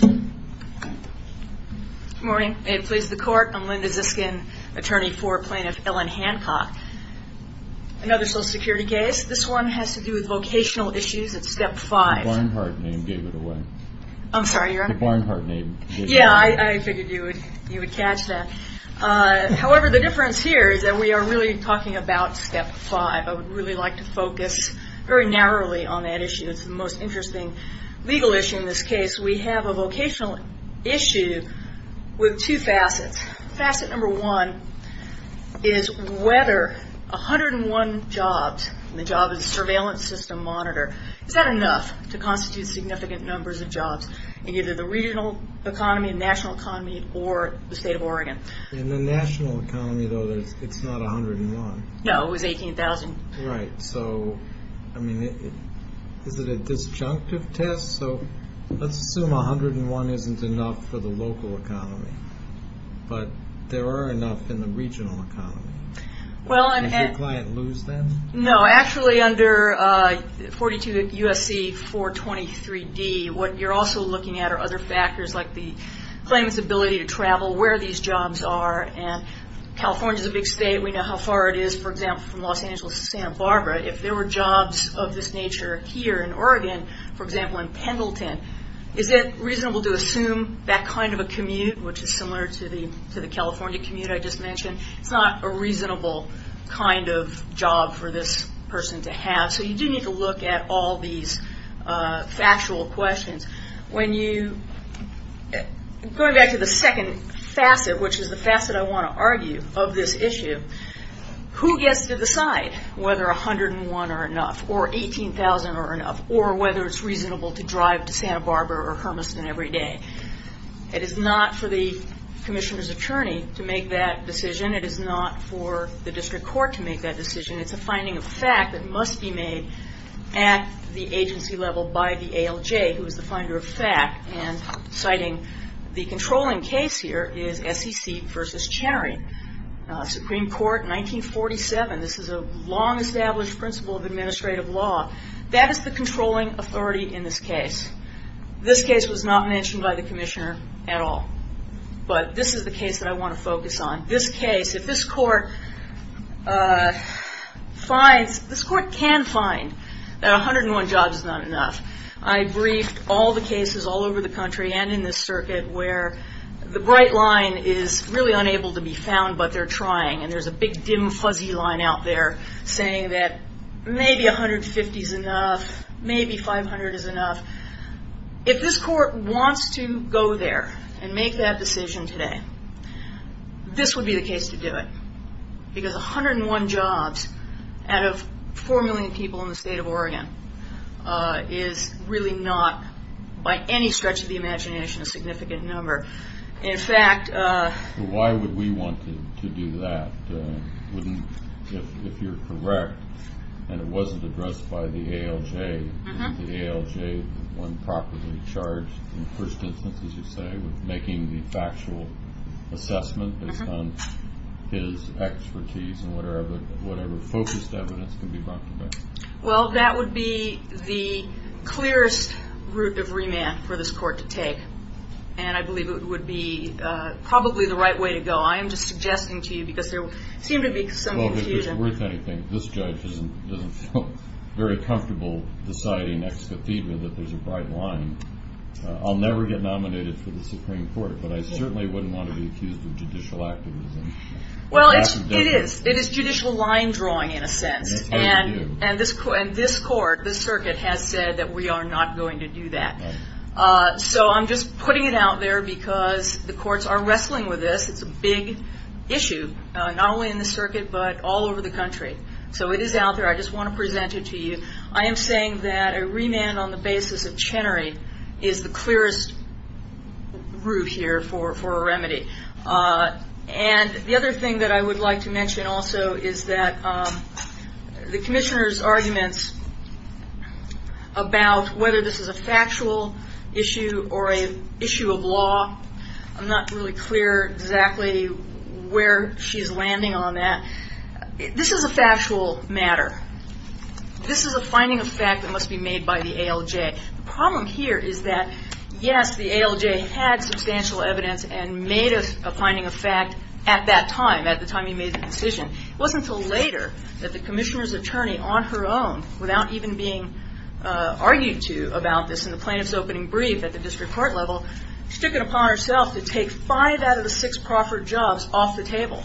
Good morning. May it please the court, I'm Linda Ziskin, attorney for plaintiff Ellen Hancock. Another social security case. This one has to do with vocational issues at step five. The Barnhart name gave it away. I'm sorry, your honor? The Barnhart name gave it away. Yeah, I figured you would catch that. However, the difference here is that we are really talking about step five. I would really like to focus very narrowly on that issue. It's the most interesting legal issue in this case. We have a vocational issue with two facets. Facet number one is whether 101 jobs, and the job is a surveillance system monitor, is that enough to constitute significant numbers of jobs in either the regional economy, national economy, or the state of Oregon? In the national economy, though, it's not 101. No, it was 18,000. Right. So, I mean, is it a disjunctive test? So, let's assume 101 isn't enough for the local economy, but there are enough in the regional economy. Well, and... Does your client lose them? No. Actually, under 42 U.S.C. 423 D, what you're also looking at are other factors like the claimant's ability to travel, where these jobs are, and California is a big state. We if there were jobs of this nature here in Oregon, for example, in Pendleton, is it reasonable to assume that kind of a commute, which is similar to the California commute I just mentioned, it's not a reasonable kind of job for this person to have. So, you do need to look at all these factual questions. When you... Going back to the second facet, which is the facet I want to argue of this whether 101 are enough, or 18,000 are enough, or whether it's reasonable to drive to Santa Barbara or Hermiston every day. It is not for the commissioner's attorney to make that decision. It is not for the district court to make that decision. It's a finding of fact that must be made at the agency level by the ALJ, who is the finder of fact, and citing the controlling case here is SEC v. Chenery, Supreme Court, 1947. This is a long-established principle of administrative law. That is the controlling authority in this case. This case was not mentioned by the commissioner at all, but this is the case that I want to focus on. This case, if this court finds, this court can find that 101 jobs is not enough. I briefed all the cases all over the country and in this circuit where the bright line is really unable to be found, but they're trying, and there's a big, dim, fuzzy line out there saying that maybe 150 is enough, maybe 500 is enough. If this court wants to go there and make that decision today, this would be the case to do it, because 101 jobs out of 4 million people in the state of Oregon is really not, by any stretch of the imagination, a significant number. In fact... Why would we want to do that, if you're correct, and it wasn't addressed by the ALJ, and the ALJ, when properly charged, in the first instance, as you say, with making the factual assessment based on his expertise and whatever focused evidence can be brought to bear? Well, that would be the clearest route of remand for this court to take, and I believe it would be probably the right way to go. I am just suggesting to you, because there seemed to be some confusion... Well, if it's worth anything, this judge doesn't feel very comfortable deciding ex cathedra that there's a bright line. I'll never get nominated for the Supreme Court, but I certainly wouldn't want to be accused of judicial activism. Well, it is. It is judicial line drawing, in a sense, and this court, this circuit, has said that we are not going to do that. So I'm just putting it out there because the courts are wrestling with this. It's a big issue, not only in the circuit, but all over the country. So it is out there. I just want to present it to you. I am saying that a remand on the basis of Chenery is the clearest route here for a remedy. And the other thing that I would like to mention also is that the Commissioner's arguments about whether this is a factual issue or an issue of law, I'm not really clear exactly where she's landing on that. This is a factual matter. This is a finding of fact that must be made by the ALJ. The problem here is that, yes, the ALJ had substantial evidence and made a finding of fact at that time, at the time he made the decision. It wasn't until later that the Commissioner's attorney, on her own, without even being argued to about this in the plaintiff's opening brief at the district court level, she took it upon herself to take five out of the six proffered jobs off the table.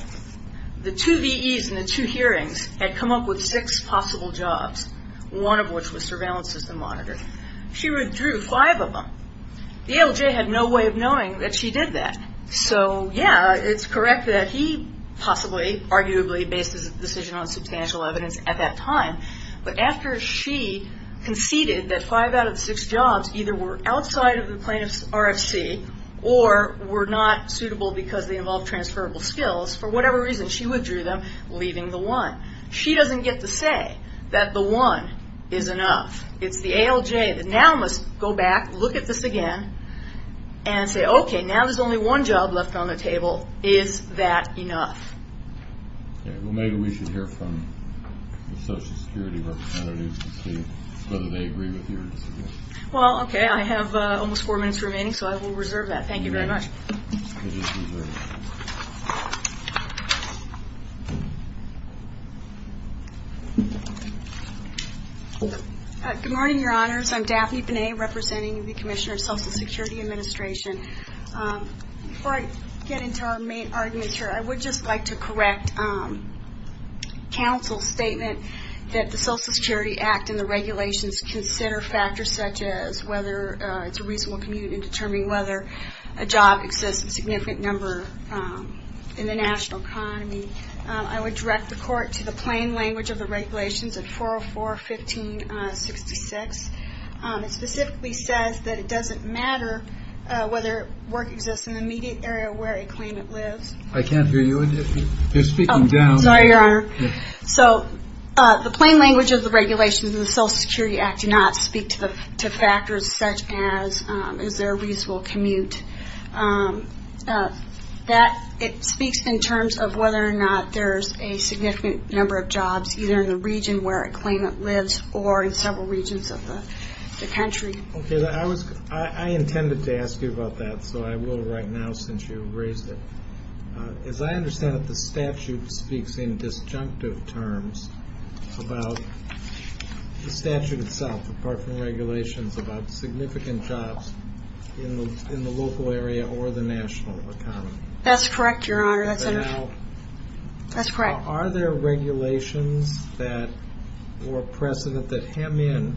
The two VEs in the two hearings had come up with six possible jobs, one of which was surveillance system monitoring. She withdrew five of them. The ALJ had no way of knowing that she did that. So, yeah, it's correct that he possibly, arguably, based his decision on substantial evidence at that time. But after she conceded that five out of the six jobs either were outside of the plaintiff's RFC or were not suitable because they involved transferable skills, for whatever reason, she withdrew them, leaving the one. She doesn't get to say that the one is enough. It's the ALJ that now must go back, look at this again, and say, okay, now there's only one job left on the table. Is that enough? Okay. Well, maybe we should hear from the Social Security representatives to see whether they agree with your decision. Well, okay. I have almost four minutes remaining, so I will reserve that. Thank you very much. Good morning, Your Honors. I'm Daphne Binet, representing the Commissioner of Social Security Administration. Before I get into our main arguments here, I would just like to correct counsel's statement that the Social Security Act and the regulations consider factors such as whether it's a reasonable commute in determining whether a job exists in a significant number in the national economy. I would direct the court to the plain language of the regulations at 404.15.66. It specifically says that it doesn't matter whether work exists in the immediate area where a claimant lives. I can't hear you. You're speaking down. Sorry, Your Honor. So the plain language of the regulations in the Social Security Act do not speak to factors such as is there a reasonable commute. It speaks in terms of whether or not there's a significant number of jobs either in the region where a claimant lives or in several regions of the country. I intended to ask you about that, so I will right now since you raised it. As I understand it, the statute speaks in disjunctive terms about the statute itself, apart from regulations about significant jobs in the local area or the national economy. That's correct, Your Honor. Are there regulations or precedent that hem in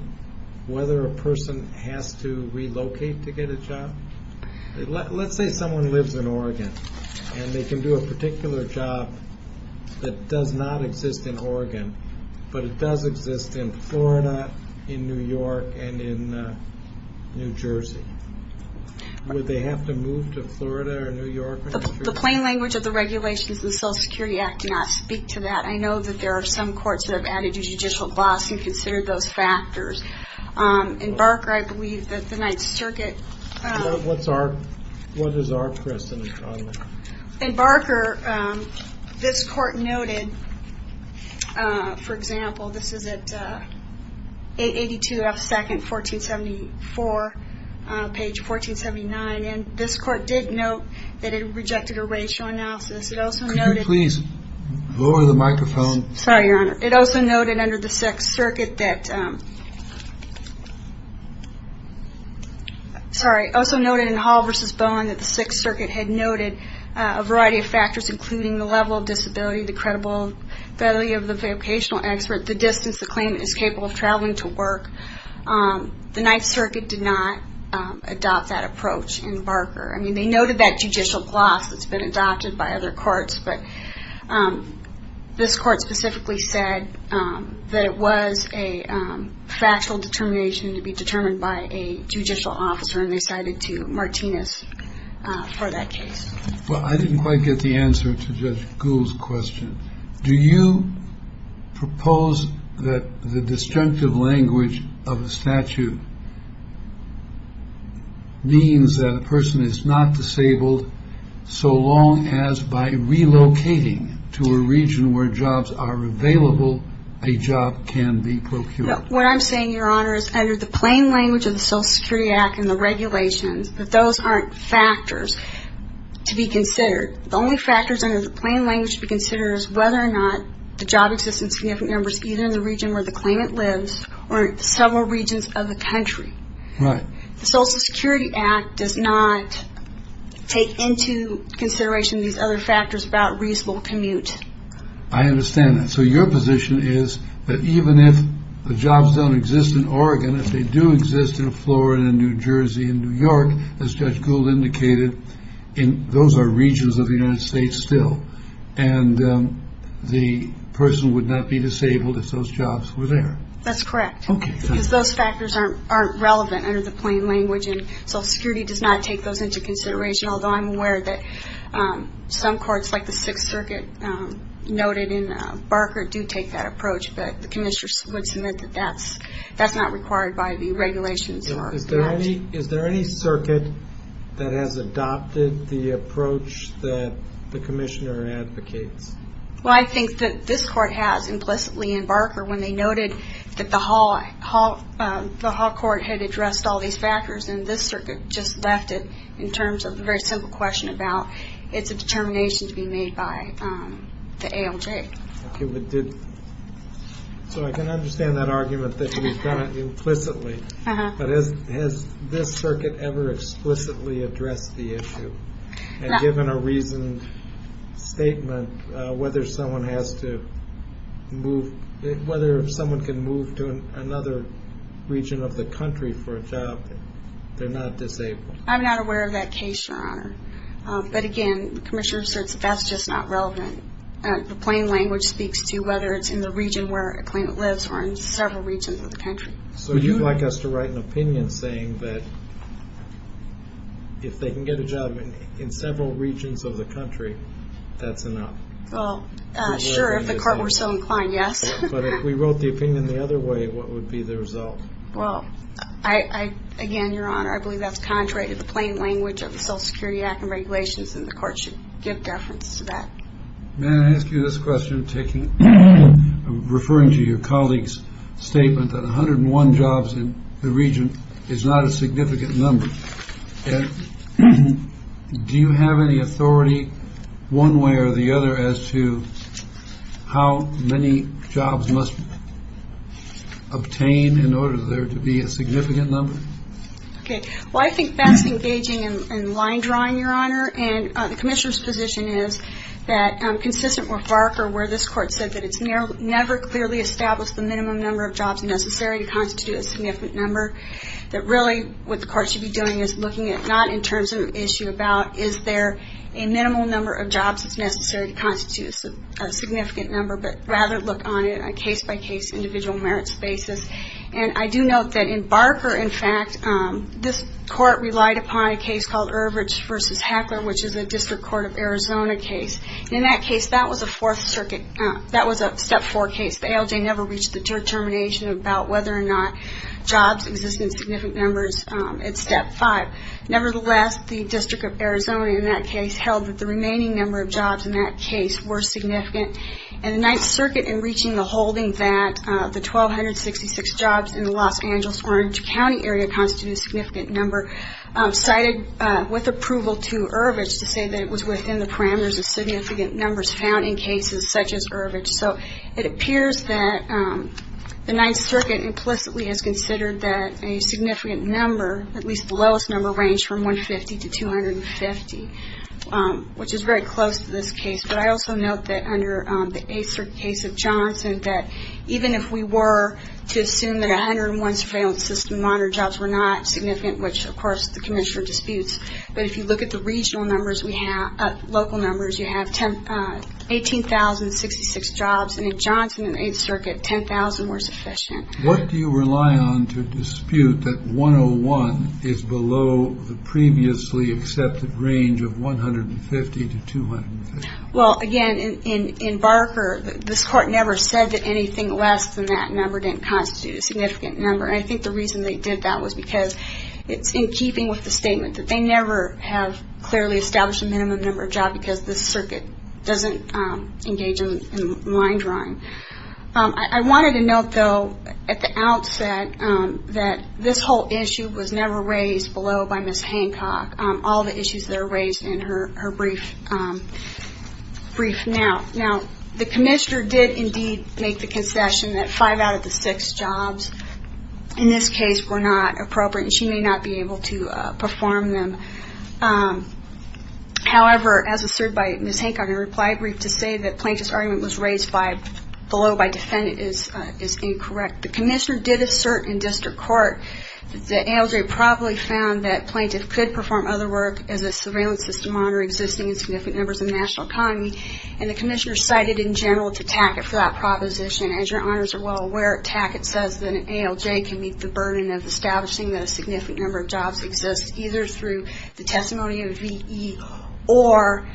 whether a person has to relocate to get a job? Let's say someone lives in Oregon and they can do a particular job that does not exist in Oregon, but it does exist in Florida, in New York, and in New Jersey. Would they have to move to Florida or New York? The plain language of the regulations in the Social Security Act do not speak to that. I know that there are some courts that have added a judicial glossary to consider those circumstances. What is our precedent on that? In Barker, this Court noted, for example, this is at 882 F. 2nd, 1474, page 1479, and this Court did note that it rejected a racial analysis. Could you please lower the microphone? Sorry, Your Honor. It also noted in Hall v. Bowen that the Sixth Circuit had noted a variety of factors, including the level of disability, the credibility of the vocational expert, the distance the claimant is capable of traveling to work. The Ninth Circuit did not adopt that approach in Barker. They noted that judicial gloss that's been adopted by other courts. But this Court specifically said that it was a factual determination to be determined by a judicial officer, and they cited to Martinez for that case. Well, I didn't quite get the answer to Judge Gould's question. Do you propose that the disjunctive language of the statute means that a person is not disabled so long as by relocating to a region where jobs are available, a job can be procured? Well, what I'm saying, Your Honor, is under the plain language of the Social Security Act and the regulations, that those aren't factors to be considered. The only factors under the plain language to be considered is whether or not the job exists in significant numbers either in the region where the claimant lives or in several regions of the country. The Social Security Act does not take into consideration these other factors about reasonable commute. I understand that. So your position is that even if the jobs don't exist in Oregon, if they do exist in Florida and New Jersey and New York, as Judge Gould indicated, those are regions of the United States still, and the person would not be disabled if those jobs were there. That's correct. Because those factors aren't relevant under the plain language, and Social Security does not take those into consideration, although I'm aware that some courts, like the Sixth Circuit noted in Barker, do take that approach. But the Commissioner would submit that that's not required by the regulations. Is there any circuit that has adopted the approach that the Commissioner advocates? Well, I think that this Court has implicitly in Barker when they noted that the Hall Court had addressed all these factors, and this Circuit just left it in terms of a very simple question about it's a determination to be made by the ALJ. So I can understand that argument that you've done it implicitly, but has this Circuit ever explicitly addressed the issue? And given a reasoned statement, whether someone has to move, whether someone can move to another region of the country for a job, they're not disabled? I'm not aware of that case, Your Honor. But again, the Commissioner asserts that that's just not relevant. The plain language speaks to whether it's in the region where a claimant lives or in several regions of the country. So you'd like us to write an opinion saying that if they can get a job in several regions of the country, that's enough? Well, sure, if the Court were so inclined, yes. But if we wrote the opinion the other way, what would be the result? Well, again, Your Honor, I believe that's contrary to the plain language of the Social Security Act and regulations, and the Court should give deference to that. Ma'am, I ask you this question, referring to your colleague's statement that 101 jobs in the region is not a significant number. Do you have any authority, one way or the other, as to how many jobs must be obtained in order for there to be a significant number? Okay. Well, I think that's engaging in line drawing, Your Honor. And the Commissioner's position is that, consistent with Barker, where this Court said that it's never clearly established the minimum number of jobs necessary to constitute a significant number, that really what the Court should be doing is looking at not in terms of an issue about is there a minimal number of jobs that's necessary to constitute a significant number, but rather look on a case-by-case, individual merits basis. And I do note that in Barker, in fact, this Court relied upon a case called Ervich v. Heckler, which is a District Court of Arizona case. In that case, that was a Fourth Circuit, that was a Step 4 case. The ALJ never reached the determination about whether or not jobs existed in significant numbers at Step 5. Nevertheless, the District of Arizona in that case held that the remaining number of jobs in that case were significant. And the Ninth Circuit found that six jobs in the Los Angeles Orange County area constituted a significant number. Cited with approval to Ervich to say that it was within the parameters of significant numbers found in cases such as Ervich. So it appears that the Ninth Circuit implicitly has considered that a significant number, at least the lowest number, ranged from 150 to 250, which is very close to this case. But I also note that under the Eighth Circuit case of Johnson, that even if we were to assume that 101 surveillance system monitor jobs were not significant, which, of course, the Commissioner disputes, but if you look at the regional numbers we have, local numbers, you have 18,066 jobs. And in Johnson and the Eighth Circuit, 10,000 were sufficient. What do you rely on to dispute that 101 is below the previously accepted range of 150 to 250? Well, again, in Barker, this Court never said that anything less than that number didn't constitute a significant number. And I think the reason they did that was because it's in keeping with the statement that they never have clearly established a minimum number of jobs because this Circuit doesn't engage in line drawing. I wanted to note, though, at the outset, that this whole issue was never raised below by Ms. Hancock. All the issues that are raised in her brief now. Now, the Commissioner did indeed make the concession that five out of the six jobs in this case were not appropriate and she may not be able to perform them. However, as asserted by Ms. Hancock in her reply brief, to say that plaintiff's argument was raised below by defendant is incorrect. The Commissioner did assert in District Court that ALJ probably found that plaintiff could perform other work as a surveillance system on or existing in significant numbers in the national economy. And the Commissioner cited in general to Tackett for that proposition. As your Honors are well aware, Tackett says that an ALJ can meet the burden of establishing that a significant number of jobs exist either through the testimony of a VE or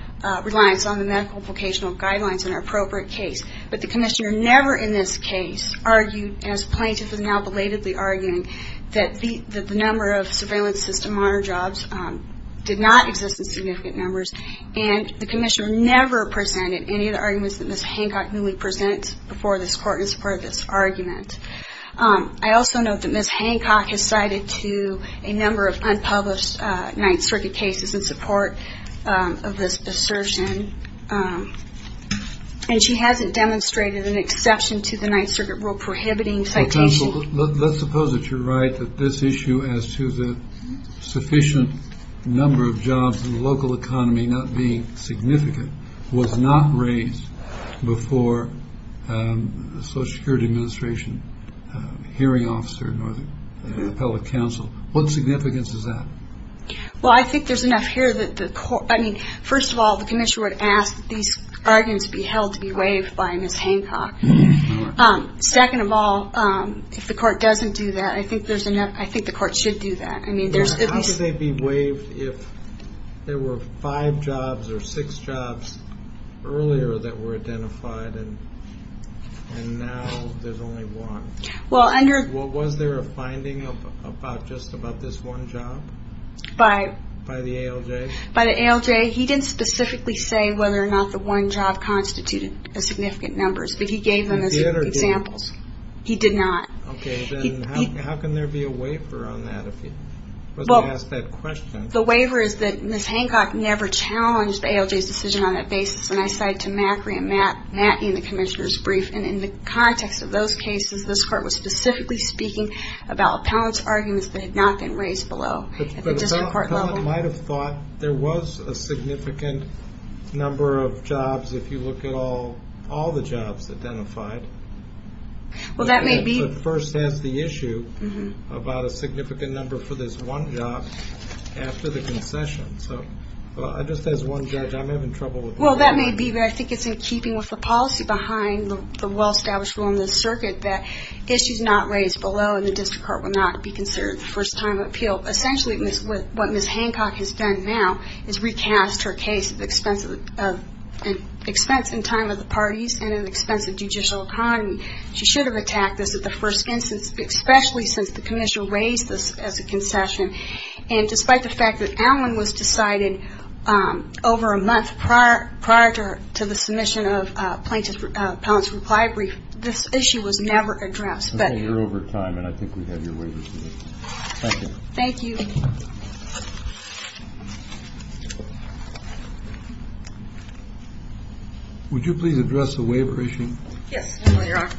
reliance on the medical vocational guidelines in an appropriate case. But the Commissioner never in this case argued, as plaintiff is now belatedly arguing, that the number of surveillance system on or jobs did not exist in significant numbers. And the Commissioner never presented any of the arguments that Ms. Hancock newly presented before this Court in support of this argument. I also note that Ms. Hancock has cited to a number of unpublished Ninth Circuit cases in support of this assertion. And she hasn't demonstrated an exception to the Ninth Circuit rule prohibiting citation. Let's suppose that you're right that this issue as to the sufficient number of jobs in the local economy not being significant was not raised before the Social Security Administration hearing officer at the Appellate Council. What significance is that? Well I think there's enough here that the Court, I mean, first of all the Commissioner would ask that these arguments be held to be waived by Ms. Hancock. Second of all, if the Court doesn't do that, I think there's enough, I think the Court should do that. How could they be waived if there were five jobs or six jobs earlier that were identified and now there's only one? Was there a finding just about this one job by the ALJ? By the ALJ, he didn't specifically say whether or not the one job constituted a significant number, but he gave them as examples. He did not. Okay, then how can there be a waiver on that if he wasn't asked that question? The waiver is that Ms. Hancock never challenged the ALJ's decision on that basis, and I cite to Mackery and Matney in the Commissioner's Brief. And in the context of those cases, this Court was specifically speaking about appellant's arguments that had not been raised below at the district court level. The appellant might have thought there was a significant number of jobs if you look at all the jobs identified. Well, that may be. But first asked the issue about a significant number for this one job after the concession. So, just as one judge, I'm having trouble with that. Well, that may be, but I think it's in keeping with the policy behind the well-established rule in the circuit that issues not raised below in the district court will not be considered the first time of appeal. Essentially, what Ms. Hancock has done now is recast her case at the expense in time of the parties and at the expense of judicial economy. She should have attacked this at the first instance, especially since the Commissioner raised this as a concession. And despite the fact that Allen was decided over a month prior to the submission of appellant's reply brief, this issue was never addressed. I think you're over time, and I think we have your waiver to make. Thank you. Thank you. Would you please address the waiver issue? Yes, Your Honor.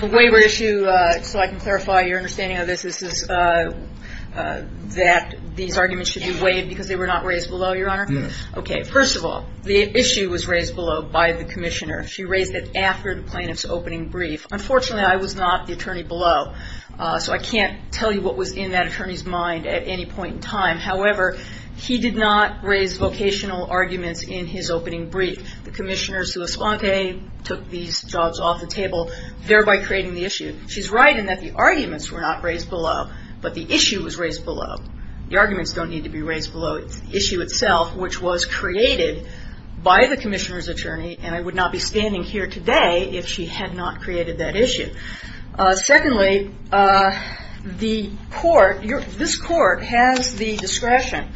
The waiver issue, so I can clarify your understanding of this, is that these arguments should be waived because they were not raised below, Your Honor? Yes. Okay. First of all, the issue was raised below by the Commissioner. She raised it after the plaintiff's opening brief. Unfortunately, I was not the attorney below, so I can't tell you what was in that attorney's mind at any point in time. However, he did not raise vocational arguments in his opening brief. The Commissioner, sua sponte, took these jobs off the table, thereby creating the issue. She's right in that the arguments were not raised below, but the issue was raised below. The arguments don't need to be raised below. It's the issue itself, which was created by the Commissioner's attorney, and I would not be standing here today if she had not created that issue. Secondly, the court, this court has the discretion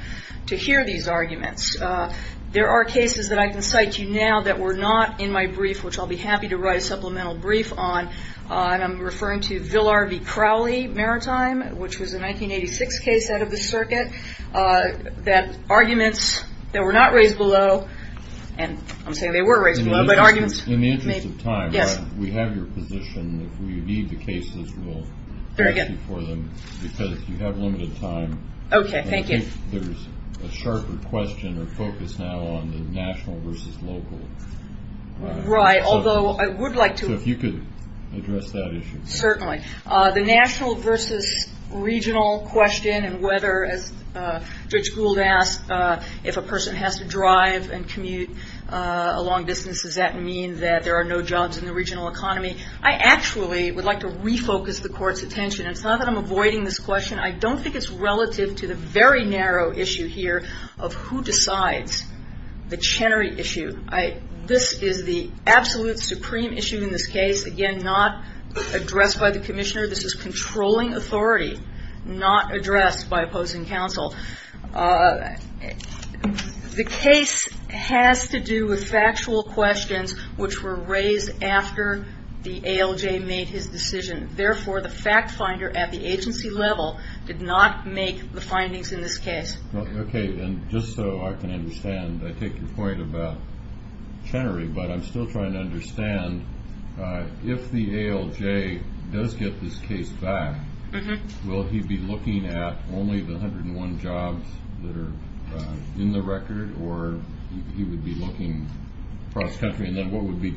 to hear these arguments. There are cases that I can cite to you now that were not in my brief, which I'll be happy to write a supplemental brief on, and I'm referring to Villar v. Crowley Maritime, which was a 1986 case out of the circuit, that arguments that were not raised below, and I'm saying they were raised below, but arguments... In the interest of time... Yes. We have your position. If we need the cases, we'll... Very good. ...ask you for them, because you have limited time. Okay, thank you. And I think there's a sharper question or focus now on the national versus local. Right, although I would like to... So if you could address that issue. Certainly. The national versus regional question and whether, as Judge Gould asked, if a person has to drive and commute a long distance, does that mean that there are no jobs in the regional economy? I actually would like to refocus the court's attention. It's not that I'm avoiding this question. I don't think it's relative to the very narrow issue here of who decides the Chenery issue. This is the absolute supreme issue in this case. Again, addressed by the commissioner. This is controlling authority, not addressed by opposing counsel. The case has to do with factual questions which were raised after the ALJ made his decision. Therefore, the fact finder at the agency level did not make the findings in this case. Okay, and just so I can understand, I take your point about Chenery, but I'm still trying to understand, if the ALJ does get this case back, will he be looking at only the 101 jobs that are in the record, or he would be looking cross-country? And then what would be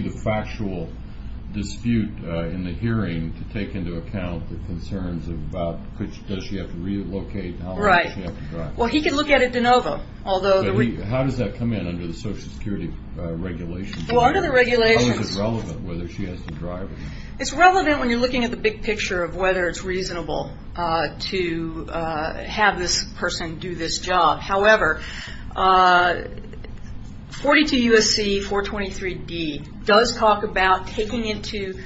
the factual dispute in the hearing to take into account the concerns about does she have to relocate and how long does she have to drive? Right. Well, he can look at it de novo. How does that come in under the Social Security regulations? Well, under the regulations... How is it relevant whether she has to drive? It's relevant when you're looking at the big picture of whether it's reasonable to have this person do this job. However, 42 U.S.C. 423D does talk about taking into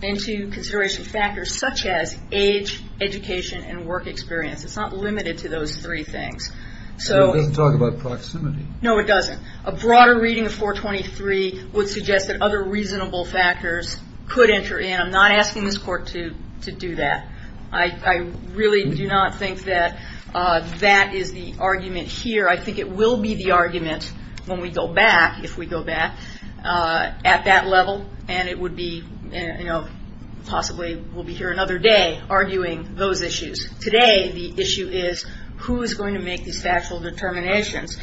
consideration factors such as age, education, and work experience. It's not limited to those three things. It doesn't talk about proximity. No, it doesn't. A broader reading of 423 would suggest that other reasonable factors could enter in. I'm not asking this Court to do that. I really do not think that that is the argument here. I think it will be the argument when we go back, if we go back, at that level, and it would be, you know, possibly we'll be here another day arguing those issues. Today, the issue is who is going to make these factual determinations.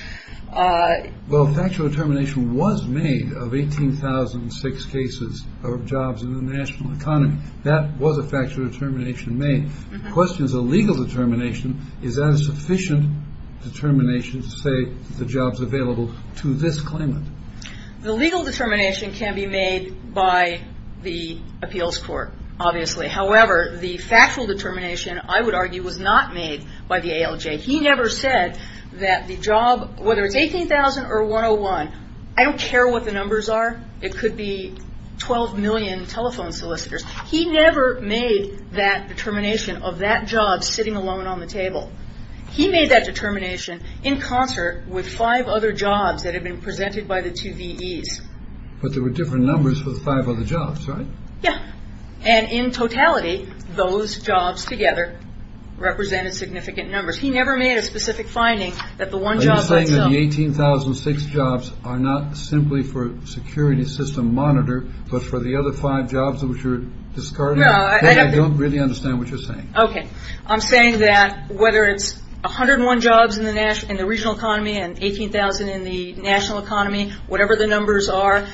Well, a factual determination was made of 18,006 cases of jobs in the national economy. That was a factual determination made. The question is, a legal determination, is that a sufficient determination to say the job's available to this claimant? The legal determination can be made by the appeals court, obviously. However, the factual determination, I would argue, was not made by the ALJ. He never said that the job, whether it's 18,000 or 101, I don't care what the numbers are. It could be 12 million telephone solicitors. He never made that determination of that job sitting alone on the table. He made that determination in concert with five other jobs that had been presented by the two VEs. But there were different numbers for the five other jobs, right? Yeah. And in totality, those jobs together represented significant numbers. He never made a specific finding that the one job... Are you saying that the 18,006 jobs are not simply for security system monitor, but for the other five jobs which are discarded? No, I... I don't really understand what you're saying. Okay. I'm saying that whether it's 101 jobs in the national, in the regional economy and 18,000 in the national economy, whatever the numbers are,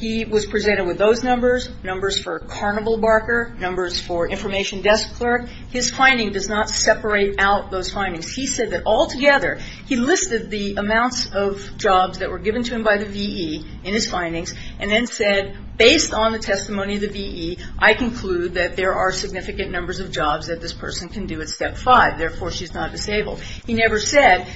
he was presented with those numbers, numbers for carnival barker, numbers for information desk clerk. His finding does not separate out those findings. He said that altogether, he listed the amounts of jobs that were given to him by the VE in his findings and then said, based on the testimony of the VE, I conclude that there are significant numbers of jobs that this person can do at step five. Therefore, she's not disabled. He never said,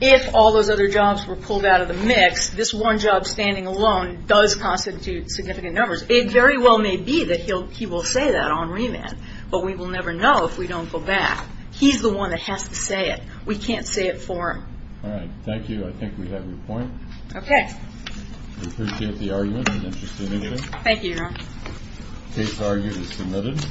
if all those other jobs were pulled out of the mix, this one job standing alone does constitute significant numbers. It very well may be that he will say that on remand, but we will never know if we don't go back. He's the one that has to say it. We can't say it for him. All right. Thank you. I think we have your point. Okay. We appreciate the argument. It was interesting to hear. Thank you, Your Honor. Case argued as submitted.